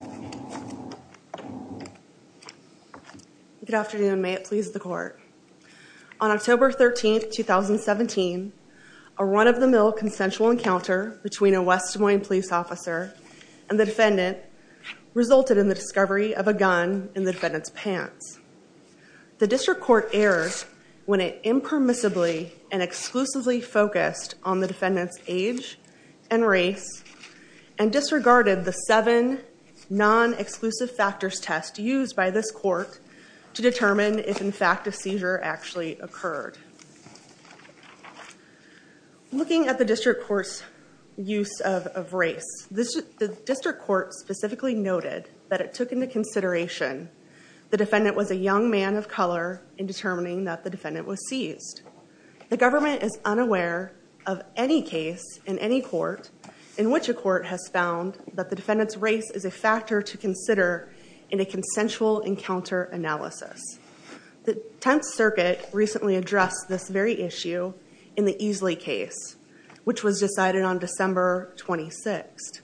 Good afternoon. May it please the court. On October 13, 2017, a run-of-the-mill consensual encounter between a West Des Moines police officer and the defendant resulted in the discovery of a gun in the defendant's pants. The district court erred when it impermissibly and exclusively focused on the defendant's age and race and disregarded the seven non-exclusive factors test used by this court to determine if in fact a seizure actually occurred. Looking at the district court's use of race, the district court specifically noted that it took into consideration the defendant was a young man of color in determining that the defendant was seized. The government is unaware of any case in any court in which a court has found that the defendant's race is a factor to consider in a consensual encounter analysis. The Tenth Circuit recently addressed this very issue in the Easley case which was decided on December 26th.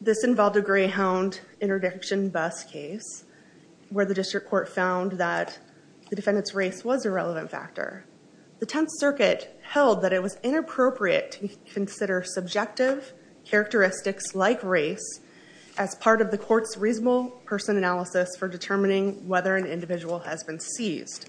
This involved a Greyhound interdiction bus case where the district court found that the defendant's race was a factor. The Tenth Circuit held that it was inappropriate to consider subjective characteristics like race as part of the court's reasonable person analysis for determining whether an individual has been seized.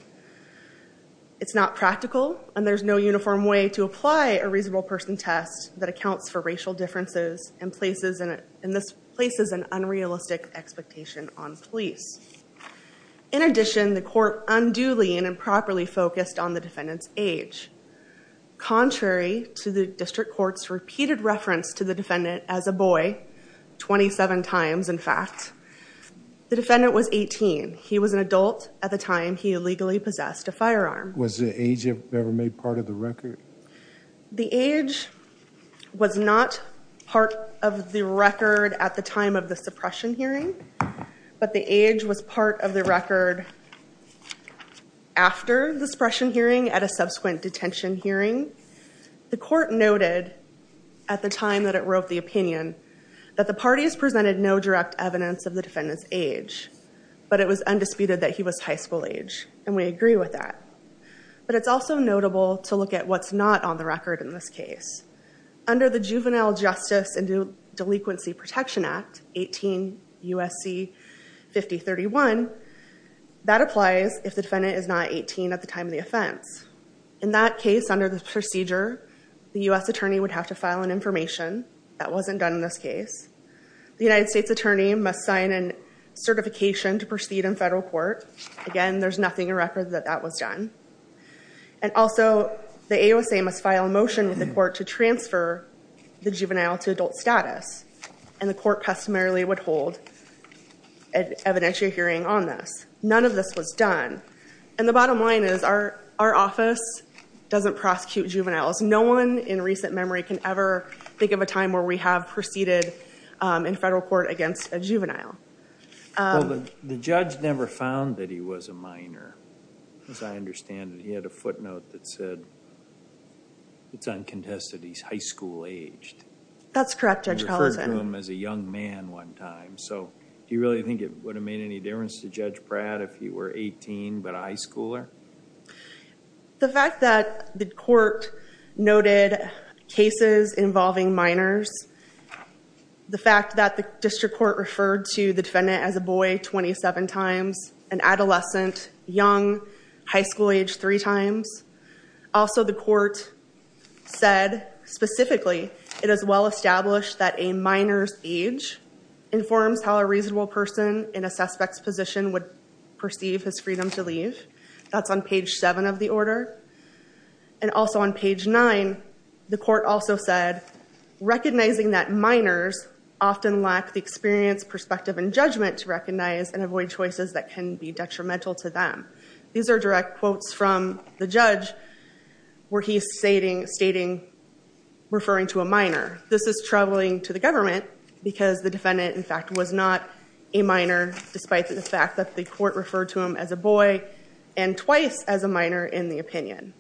It's not practical and there's no uniform way to apply a reasonable person test that accounts for racial differences and this places an unrealistic expectation on police. In addition, the court unduly and improperly focused on the defendant's age. Contrary to the district court's repeated reference to the defendant as a boy, 27 times in fact, the defendant was 18. He was an adult at the time he illegally possessed a firearm. Was the age ever made part of the record? The age was not part of the record at the time of the suppression hearing, but the age was part of the record after the suppression hearing at a subsequent detention hearing. The court noted at the time that it wrote the opinion that the parties presented no direct evidence of the defendant's age, but it was undisputed that he was high school age and we agree with that. But it's also notable to look at what's not on the record in this case. Under the Juvenile Justice and Delinquency Protection Act 18 U.S.C. 5031, that applies if the defendant is not 18 at the time of the offense. In that case, under the procedure, the U.S. attorney would have to file an information. That wasn't done in this case. The United States attorney must sign a certification to proceed in federal court. Again, there's nothing in record that that was done. And also, the AOSA must file a motion with the court to transfer the juvenile to adult status and the court customarily would hold an evidentiary hearing on this. None of this was done. And the bottom line is our office doesn't prosecute juveniles. No one in recent memory can ever think of a time where we have proceeded in federal court against a juvenile. Well, the judge never found that he was a minor. As I understand it, he had a footnote that said it's uncontested he's high school aged. That's correct, Judge Collison. He referred to him as a young man one time. So do you really think it would have made any difference to Judge Pratt if he were 18 but a high schooler? The fact that the court noted cases involving minors, the fact that the district court referred to the defendant as a boy 27 times, an adolescent, young, high school age three times. Also, the court said specifically it is well established that a minor's age informs how a reasonable person in a suspect's position would perceive his freedom to leave. That's on page seven of the order. And also on page nine, the court also said, recognizing that minors often lack the experience, perspective, and judgment to recognize and avoid choices that can be detrimental to them. These are direct quotes from the judge where he's stating, referring to a minor. This is troubling to the government because the defendant, in fact, was not a minor despite the fact that the court referred to him as a boy and twice as a minor in the opinion.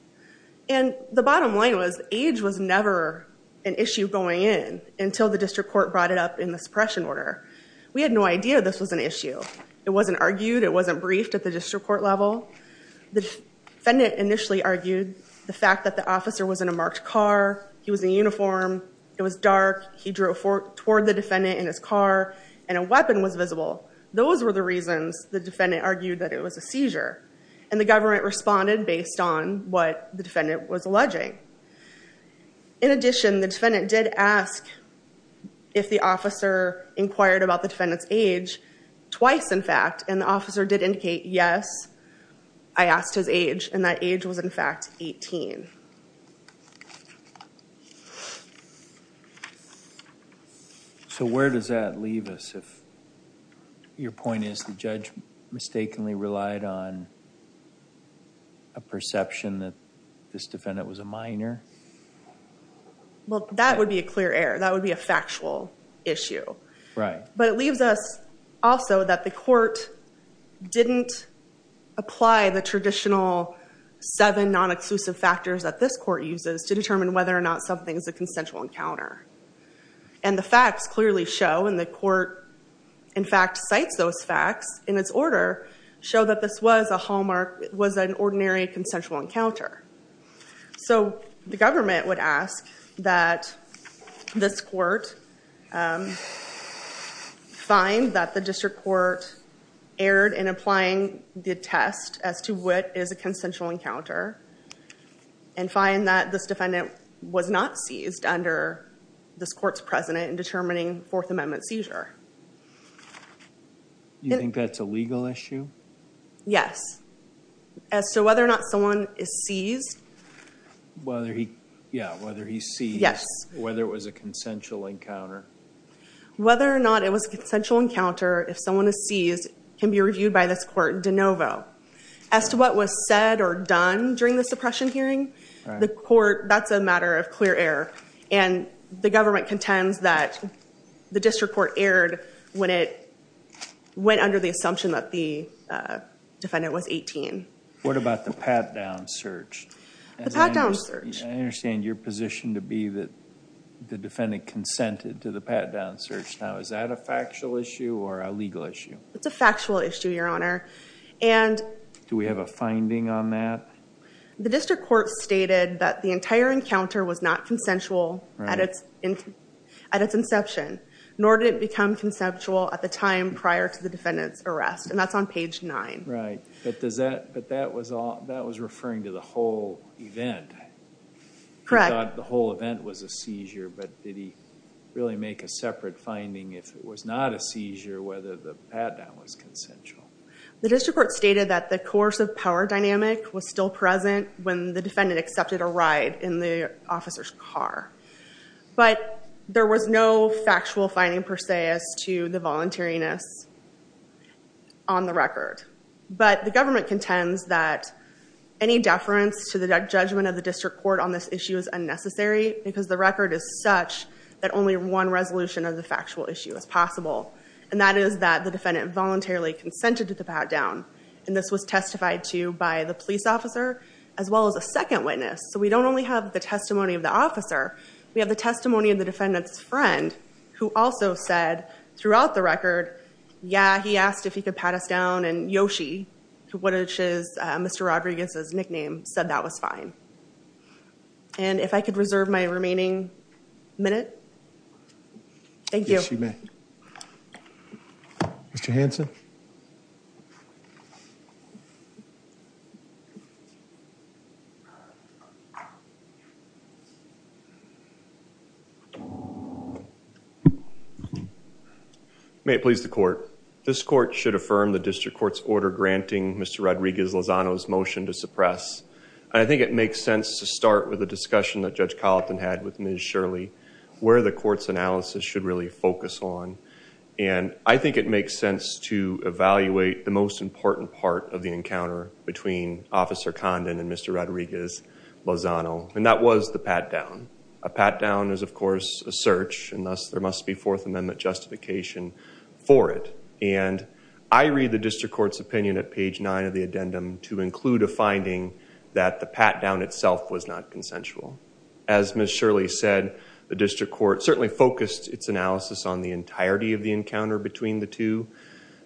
And the bottom line was age was never an issue going in until the district court brought it up in this suppression order. We had no idea this was an issue. It wasn't argued. It wasn't briefed at the district court level. The defendant initially argued the fact that the officer was in a marked car. He was in uniform. It was dark. He drove toward the defendant in his car, and a weapon was visible. Those were the reasons the defendant argued that it was a seizure, and the government responded based on what the defendant was alleging. In addition, the defendant did ask if the officer inquired about the defendant's age twice, in fact, and the officer did indicate, yes, I asked his age, and that age was, in fact, 18. So where does that leave us if your point is the judge mistakenly relied on a perception that this defendant was a minor? Well, that would be a clear error. That would be a factual issue. Right. But it leaves us, also, that the court didn't apply the traditional seven non-exclusive factors that this court uses to determine whether or not something is a consensual encounter. And the facts clearly show, and the court, in fact, cites those facts in its order, show that this was a hallmark, was an ordinary consensual encounter. So the government would ask that this court find that the district court erred in applying the test as to what is a consensual encounter, and find that this defendant was not seized under this court's precedent in determining Fourth Amendment seizure. You think that's a legal issue? Yes. As to whether or not someone is seized. Whether he, yeah, whether he's seized. Yes. Whether it was a consensual encounter. Whether or not it was a consensual encounter, if someone is seized, can be reviewed by this court de novo. As to what was said or done during the suppression hearing, the court, that's a matter of clear error, and the government contends that the district court erred when it went under the assumption that the defendant was 18. What about the pat-down search? The pat-down search. I understand your position to be that the defendant consented to the pat-down search. Now, is that a factual issue or a legal issue? It's a factual issue, Your Honor, and... Do we have a finding on that? The district court stated that the entire encounter was not consensual at its inception, nor did it become conceptual at the time prior to the defendant's arrest, and that's on page 9. Right, but does that, but that was all, that was referring to the whole event. Correct. The whole event was a seizure, but did he really make a separate finding if it was not a seizure, whether the pat-down was consensual? The district court stated that the coercive power dynamic was still present when the defendant accepted a ride in the on the record, but the government contends that any deference to the judgment of the district court on this issue is unnecessary because the record is such that only one resolution of the factual issue is possible, and that is that the defendant voluntarily consented to the pat-down, and this was testified to by the police officer as well as a second witness, so we don't only have the testimony of the officer, we have the testimony of the defendant's friend who also said throughout the record, yeah, he asked if he could pat us down, and Yoshi, which is Mr. Rodriguez's nickname, said that was fine, and if I could reserve my remaining minute. Thank you. Yes, you may. Mr. Hanson. May it please the court. This court should affirm the district court's order granting Mr. Rodriguez-Lozano's motion to suppress, and I think it makes sense to start with a discussion that Judge Colleton had with Ms. Shirley where the court's analysis should really focus on, and I think it makes sense to evaluate the most important part of the encounter between Officer Condon and Mr. Rodriguez-Lozano, and that was the pat-down. A pat-down is, of course, a search, and thus there must be Fourth Amendment justification for it, and I read the district court's opinion at page nine of the addendum to include a finding that the pat-down itself was not consensual. As Ms. Shirley said, the district court certainly focused its analysis on the entirety of the encounter between the two,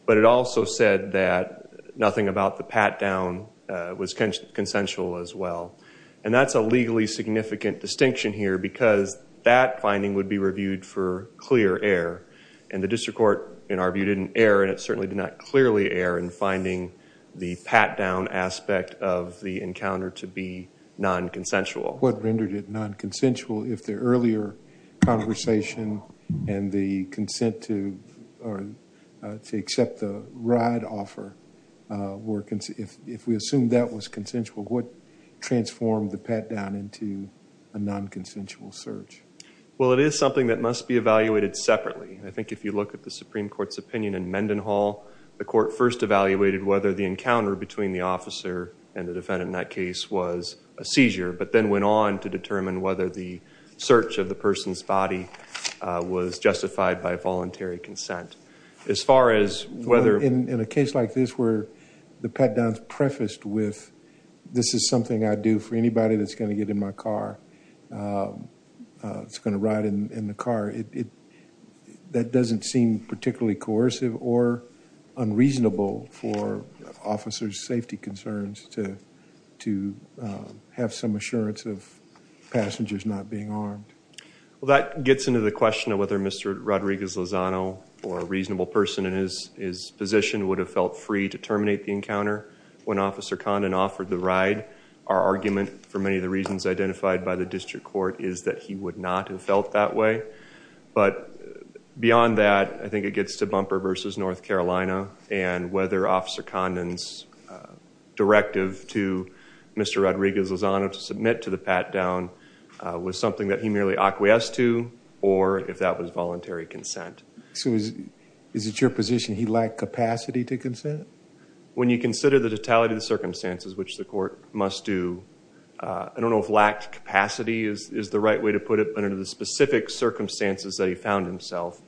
but it also said that nothing about the pat-down was consensual as well, and that's a legally significant distinction here because that finding would be reviewed for clear error, and the district court, in our view, didn't err, and it certainly did not clearly err in finding the pat-down aspect of the encounter to be non-consensual. What rendered it non-consensual if the earlier conversation and the consent to or to accept the ride offer were, if we assumed that was consensual, what transformed the pat-down into a non-consensual search? Well, it is something that must be evaluated separately. I think if you look at the Supreme Court's opinion in Mendenhall, the court first evaluated whether the encounter between the officer and the defendant in that case was a seizure, but then went on to determine whether the search of the person's body was justified by voluntary consent. As far as whether... In a case like this where the pat-down is prefaced with, this is something I'd do for anybody that's going to get in my car, that's going to ride in the car, that doesn't seem particularly coercive or unreasonable for officers' safety concerns to have some assurance of passengers not being armed. Well, that gets into the question of whether Mr. Rodriguez Lozano or a reasonable person in his position would have felt free to terminate the encounter when Officer Condon offered the ride. Our argument for many of the reasons identified by the district court is that he would not have felt that way. But beyond that, I think it gets to Bumper v. North Carolina and whether Officer Condon's directive to Mr. Rodriguez Lozano to submit to the pat-down was something that he acquiesced to or if that was voluntary consent. So, is it your position he lacked capacity to consent? When you consider the totality of the circumstances which the court must do, I don't know if lacked capacity is the right way to put it, but under the specific circumstances that he found himself,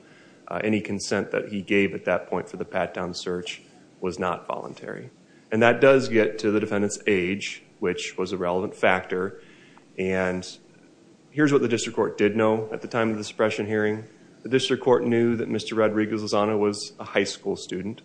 any consent that he gave at that point for the pat-down search was not voluntary. And that time of the suppression hearing, the district court knew that Mr. Rodriguez Lozano was a high school student,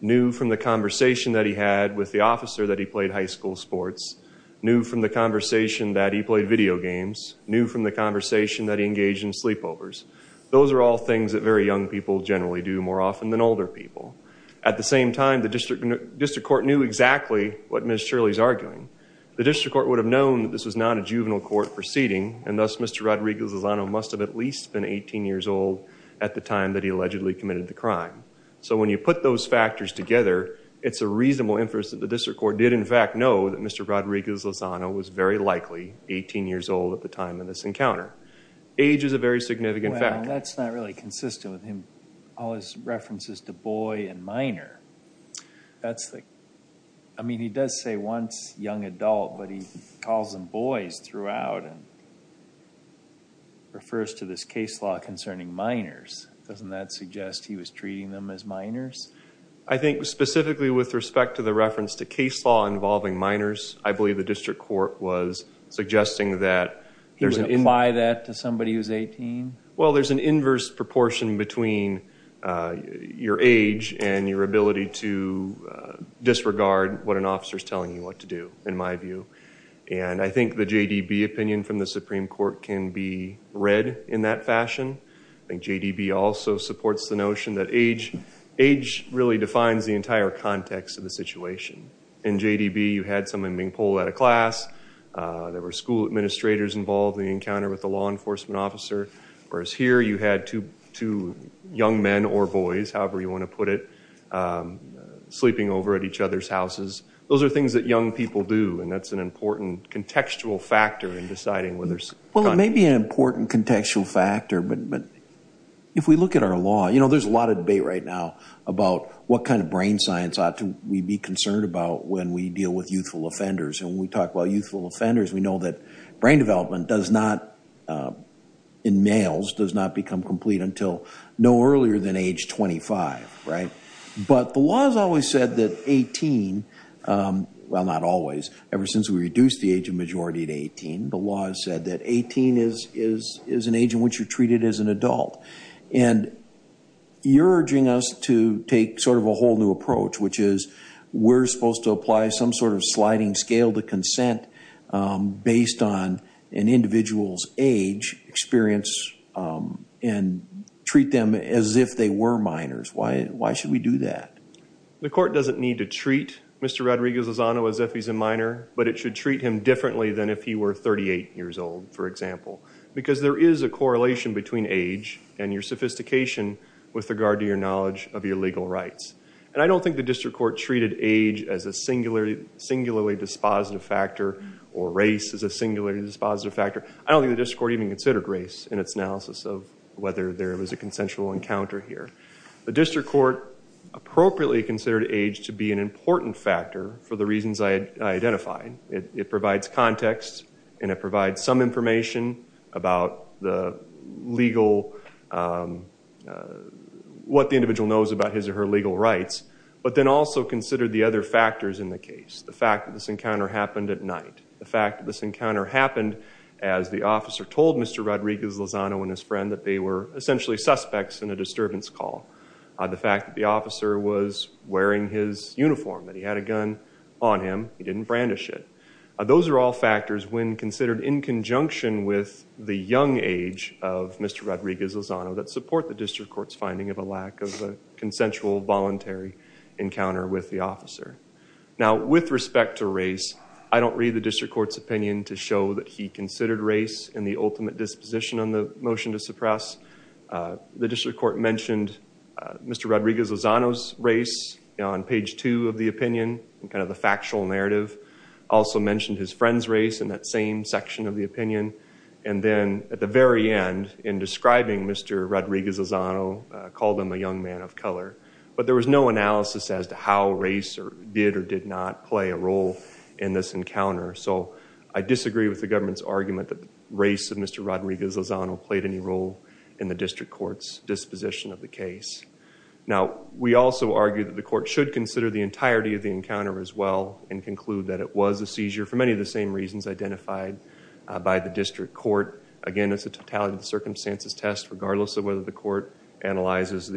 knew from the conversation that he had with the officer that he played high school sports, knew from the conversation that he played video games, knew from the conversation that he engaged in sleepovers. Those are all things that very young people generally do more often than older people. At the same time, the district court knew exactly what Ms. Shirley is arguing. The district court would have known that this was not a juvenile court proceeding and thus Mr. Rodriguez Lozano must have at least been 18 years old at the time that he allegedly committed the crime. So, when you put those factors together, it's a reasonable inference that the district court did in fact know that Mr. Rodriguez Lozano was very likely 18 years old at the time of this encounter. Age is a very significant factor. Well, that's not really consistent with him, all his references to boy and minor. That's like, I mean, he does say once young adult, but he calls them boys throughout and refers to this case law concerning minors. Doesn't that suggest he was treating them as minors? I think specifically with respect to the reference to case law involving minors, I believe the district court was suggesting that... He would apply that to somebody who's 18? Well, there's an inverse proportion between your age and your ability to and I think the JDB opinion from the Supreme Court can be read in that fashion. I think JDB also supports the notion that age really defines the entire context of the situation. In JDB, you had someone being pulled out of class, there were school administrators involved in the encounter with the law enforcement officer, whereas here you had two young men or boys, however you want to put it, sleeping over at each other's houses. Those are things that young people do and that's an important contextual factor in deciding whether... Well, it may be an important contextual factor, but if we look at our law, there's a lot of debate right now about what kind of brain science ought to we be concerned about when we deal with youthful offenders. And when we talk about youthful offenders, we know that brain development does not, in males, does not become complete until no earlier than age 25, right? But the law has said that 18, well not always, ever since we reduced the age of majority to 18, the law has said that 18 is an age in which you're treated as an adult. And you're urging us to take sort of a whole new approach, which is we're supposed to apply some sort of sliding scale to consent based on an individual's age experience and treat them as if they were minors. Why should we do that? The court doesn't need to treat Mr. Rodriguez Lozano as if he's a minor, but it should treat him differently than if he were 38 years old, for example, because there is a correlation between age and your sophistication with regard to your knowledge of your legal rights. And I don't think the district court treated age as a singularly dispositive factor or race as a singularly dispositive factor. I don't think the district court even considered race in its analysis of whether there was a consensual encounter here. The district court appropriately considered age to be an important factor for the reasons I identified. It provides context and it provides some information about the legal, what the individual knows about his or her legal rights, but then also consider the other factors in the case. The fact that this encounter happened at night. The fact that this encounter happened as the officer told Mr. Rodriguez Lozano and his essentially suspects in a disturbance call. The fact that the officer was wearing his uniform, that he had a gun on him, he didn't brandish it. Those are all factors when considered in conjunction with the young age of Mr. Rodriguez Lozano that support the district court's finding of a lack of a consensual voluntary encounter with the officer. Now, with respect to race, I don't read the district court's opinion to show that he considered race in the ultimate disposition on the motion to suppress. The district court mentioned Mr. Rodriguez Lozano's race on page two of the opinion and kind of the factual narrative. Also mentioned his friend's race in that same section of the opinion and then at the very end in describing Mr. Rodriguez Lozano, called him a young man of color, but there was no analysis as to how race did or did not play a role in this encounter. So, I disagree with the government's argument that the race of Mr. Rodriguez Lozano played any role in the district court's disposition of the case. Now, we also argue that the court should consider the entirety of the encounter as well and conclude that it was a seizure for many of the same reasons identified by the district court. Again, it's a totality of circumstances test regardless of whether the court analyzes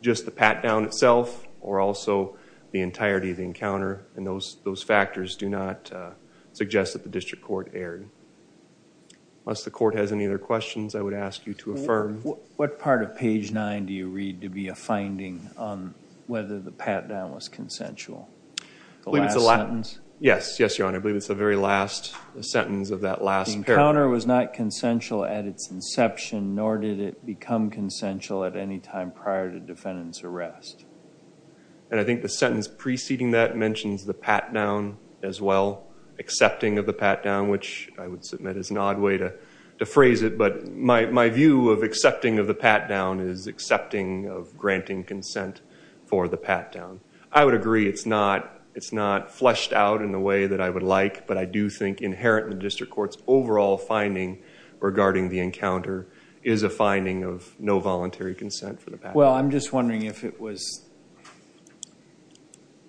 just the pat-down itself or also the entirety of the encounter and those those factors do not suggest that the district court erred. Unless the court has any other questions I would ask you to affirm. What part of page nine do you read to be a finding on whether the pat-down was consensual? The last sentence? Yes, yes your honor. I believe it's the very last sentence of that last paragraph. The encounter was not consensual at its inception nor did it become consensual at any time prior to defendant's sentence preceding that mentions the pat-down as well. Accepting of the pat-down which I would submit is an odd way to to phrase it but my my view of accepting of the pat-down is accepting of granting consent for the pat-down. I would agree it's not it's not fleshed out in the way that I would like but I do think inherent in the district court's overall finding regarding the encounter is a finding of no voluntary consent for the pat-down. Well, I'm just wondering if it was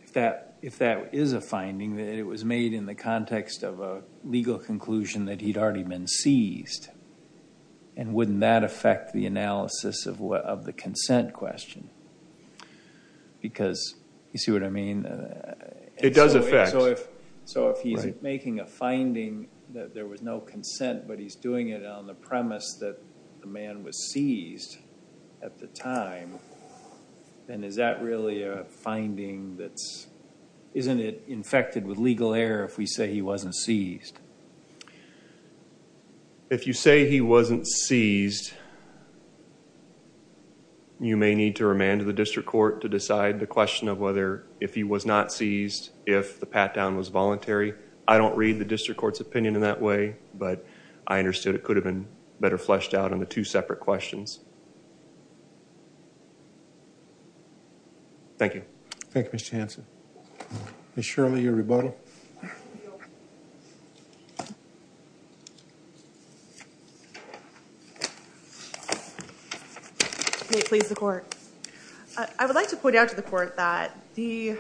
if that if that is a finding that it was made in the context of a legal conclusion that he'd already been seized and wouldn't that affect the analysis of what of the consent question because you see what I mean? It does affect. So if so if he's making a finding that there was no consent but he's doing it on the premise that the man was seized at the time then is that really a that's isn't it infected with legal error if we say he wasn't seized? If you say he wasn't seized you may need to remand to the district court to decide the question of whether if he was not seized if the pat-down was voluntary. I don't read the district court's opinion in that way but I understood it could have been better fleshed out on the two separate questions. Thank you. Thank you, Mr. Hanson. Ms. Shirley, your rebuttal. May it please the court. I would like to point out to the court that the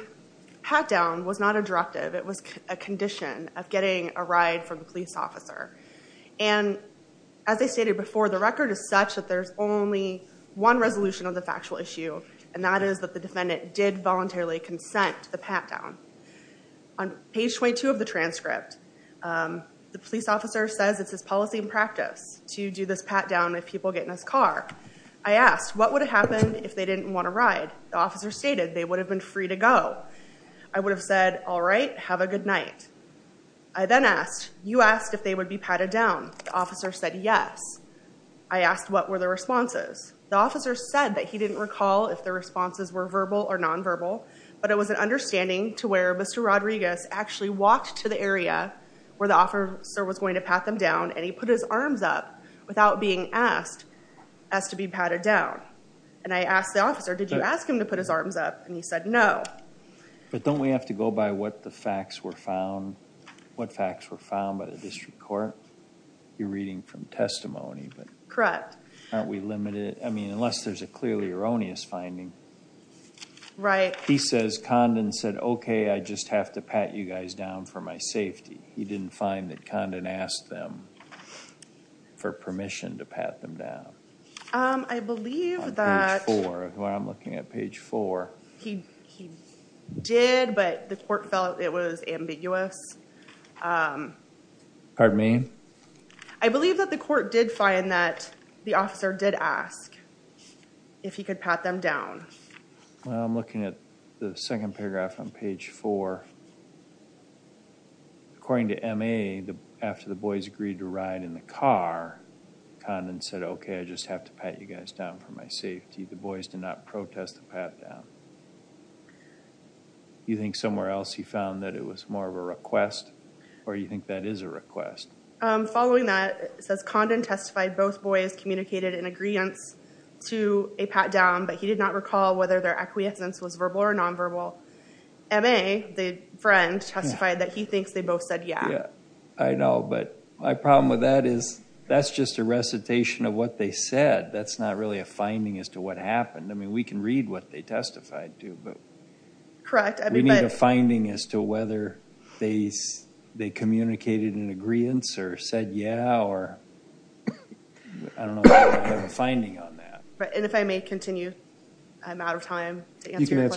pat-down was not a directive. It was a condition of getting a ride from the police officer and as I stated before the record is such that there's only one resolution of the factual issue and that is that the defendant did voluntarily consent to the pat-down. On page 22 of the transcript the police officer says it's his policy and practice to do this pat-down if people get in his car. I asked what would happen if they didn't want to ride. The officer stated they would have been free to go. I would have said all right have a good night. I then asked you asked if they would be patted down. The officer said yes. I asked what were the responses. The officer said that he didn't recall if the responses were verbal or non-verbal but it was an understanding to where Mr. Rodriguez actually walked to the area where the officer was going to pat them down and he put his arms up without being asked as to be patted down and I asked the officer did you ask him to put his arms up and he said no. But don't we have to go by what the facts were found what facts were found by the district court? You're reading from testimony. Correct. Aren't we limited I mean unless there's a clearly erroneous finding. Right. He says Condon said okay I just have to pat you guys down for my safety. He didn't find that Condon asked them for permission to pat them down. I believe when I'm looking at page four. He did but the court felt it was ambiguous. Pardon me? I believe that the court did find that the officer did ask if he could pat them down. Well I'm looking at the second paragraph on page four. According to MA after the boys agreed to ride in the car Condon said okay I just have to pat you guys down for my safety. The boys did not protest the pat down. You think somewhere else he found that it was more of a request or you think that is a request? Following that it says Condon testified both boys communicated in agreeance to a pat down but he did not recall whether their acquiescence was verbal or non-verbal. MA the friend testified that he thinks they both said yeah. Yeah I know but my problem with that is that's just a recitation of what they said. That's not really a finding as to what happened. I mean we can read what they testified to but. Correct. We need a finding as to whether they communicated in agreeance or said yeah or I don't know if we have a finding on that. Right and if I may continue I'm out of time. You I believe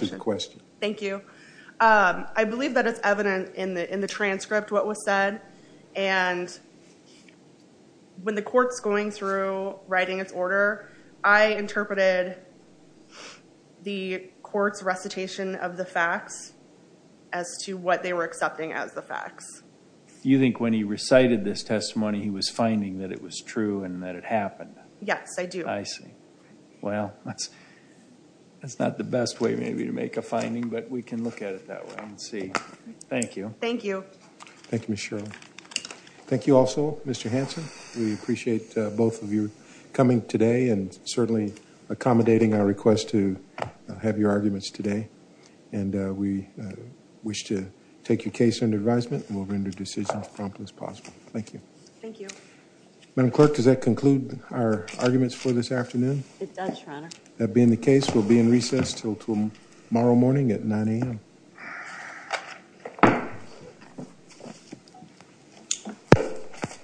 that it's evident in the in the transcript what was said and when the court's going through writing its order I interpreted the court's recitation of the facts as to what they were accepting as the facts. You think when he recited this testimony he was finding that it was true and that it happened? Yes I do. I see well that's that's not the best way maybe to make a we can look at it that way and see. Thank you. Thank you. Thank you Ms. Shirley. Thank you also Mr. Hanson. We appreciate both of you coming today and certainly accommodating our request to have your arguments today and we wish to take your case under advisement and we'll render decisions prompt as possible. Thank you. Thank you. Madam clerk does that conclude our arguments for this hearing?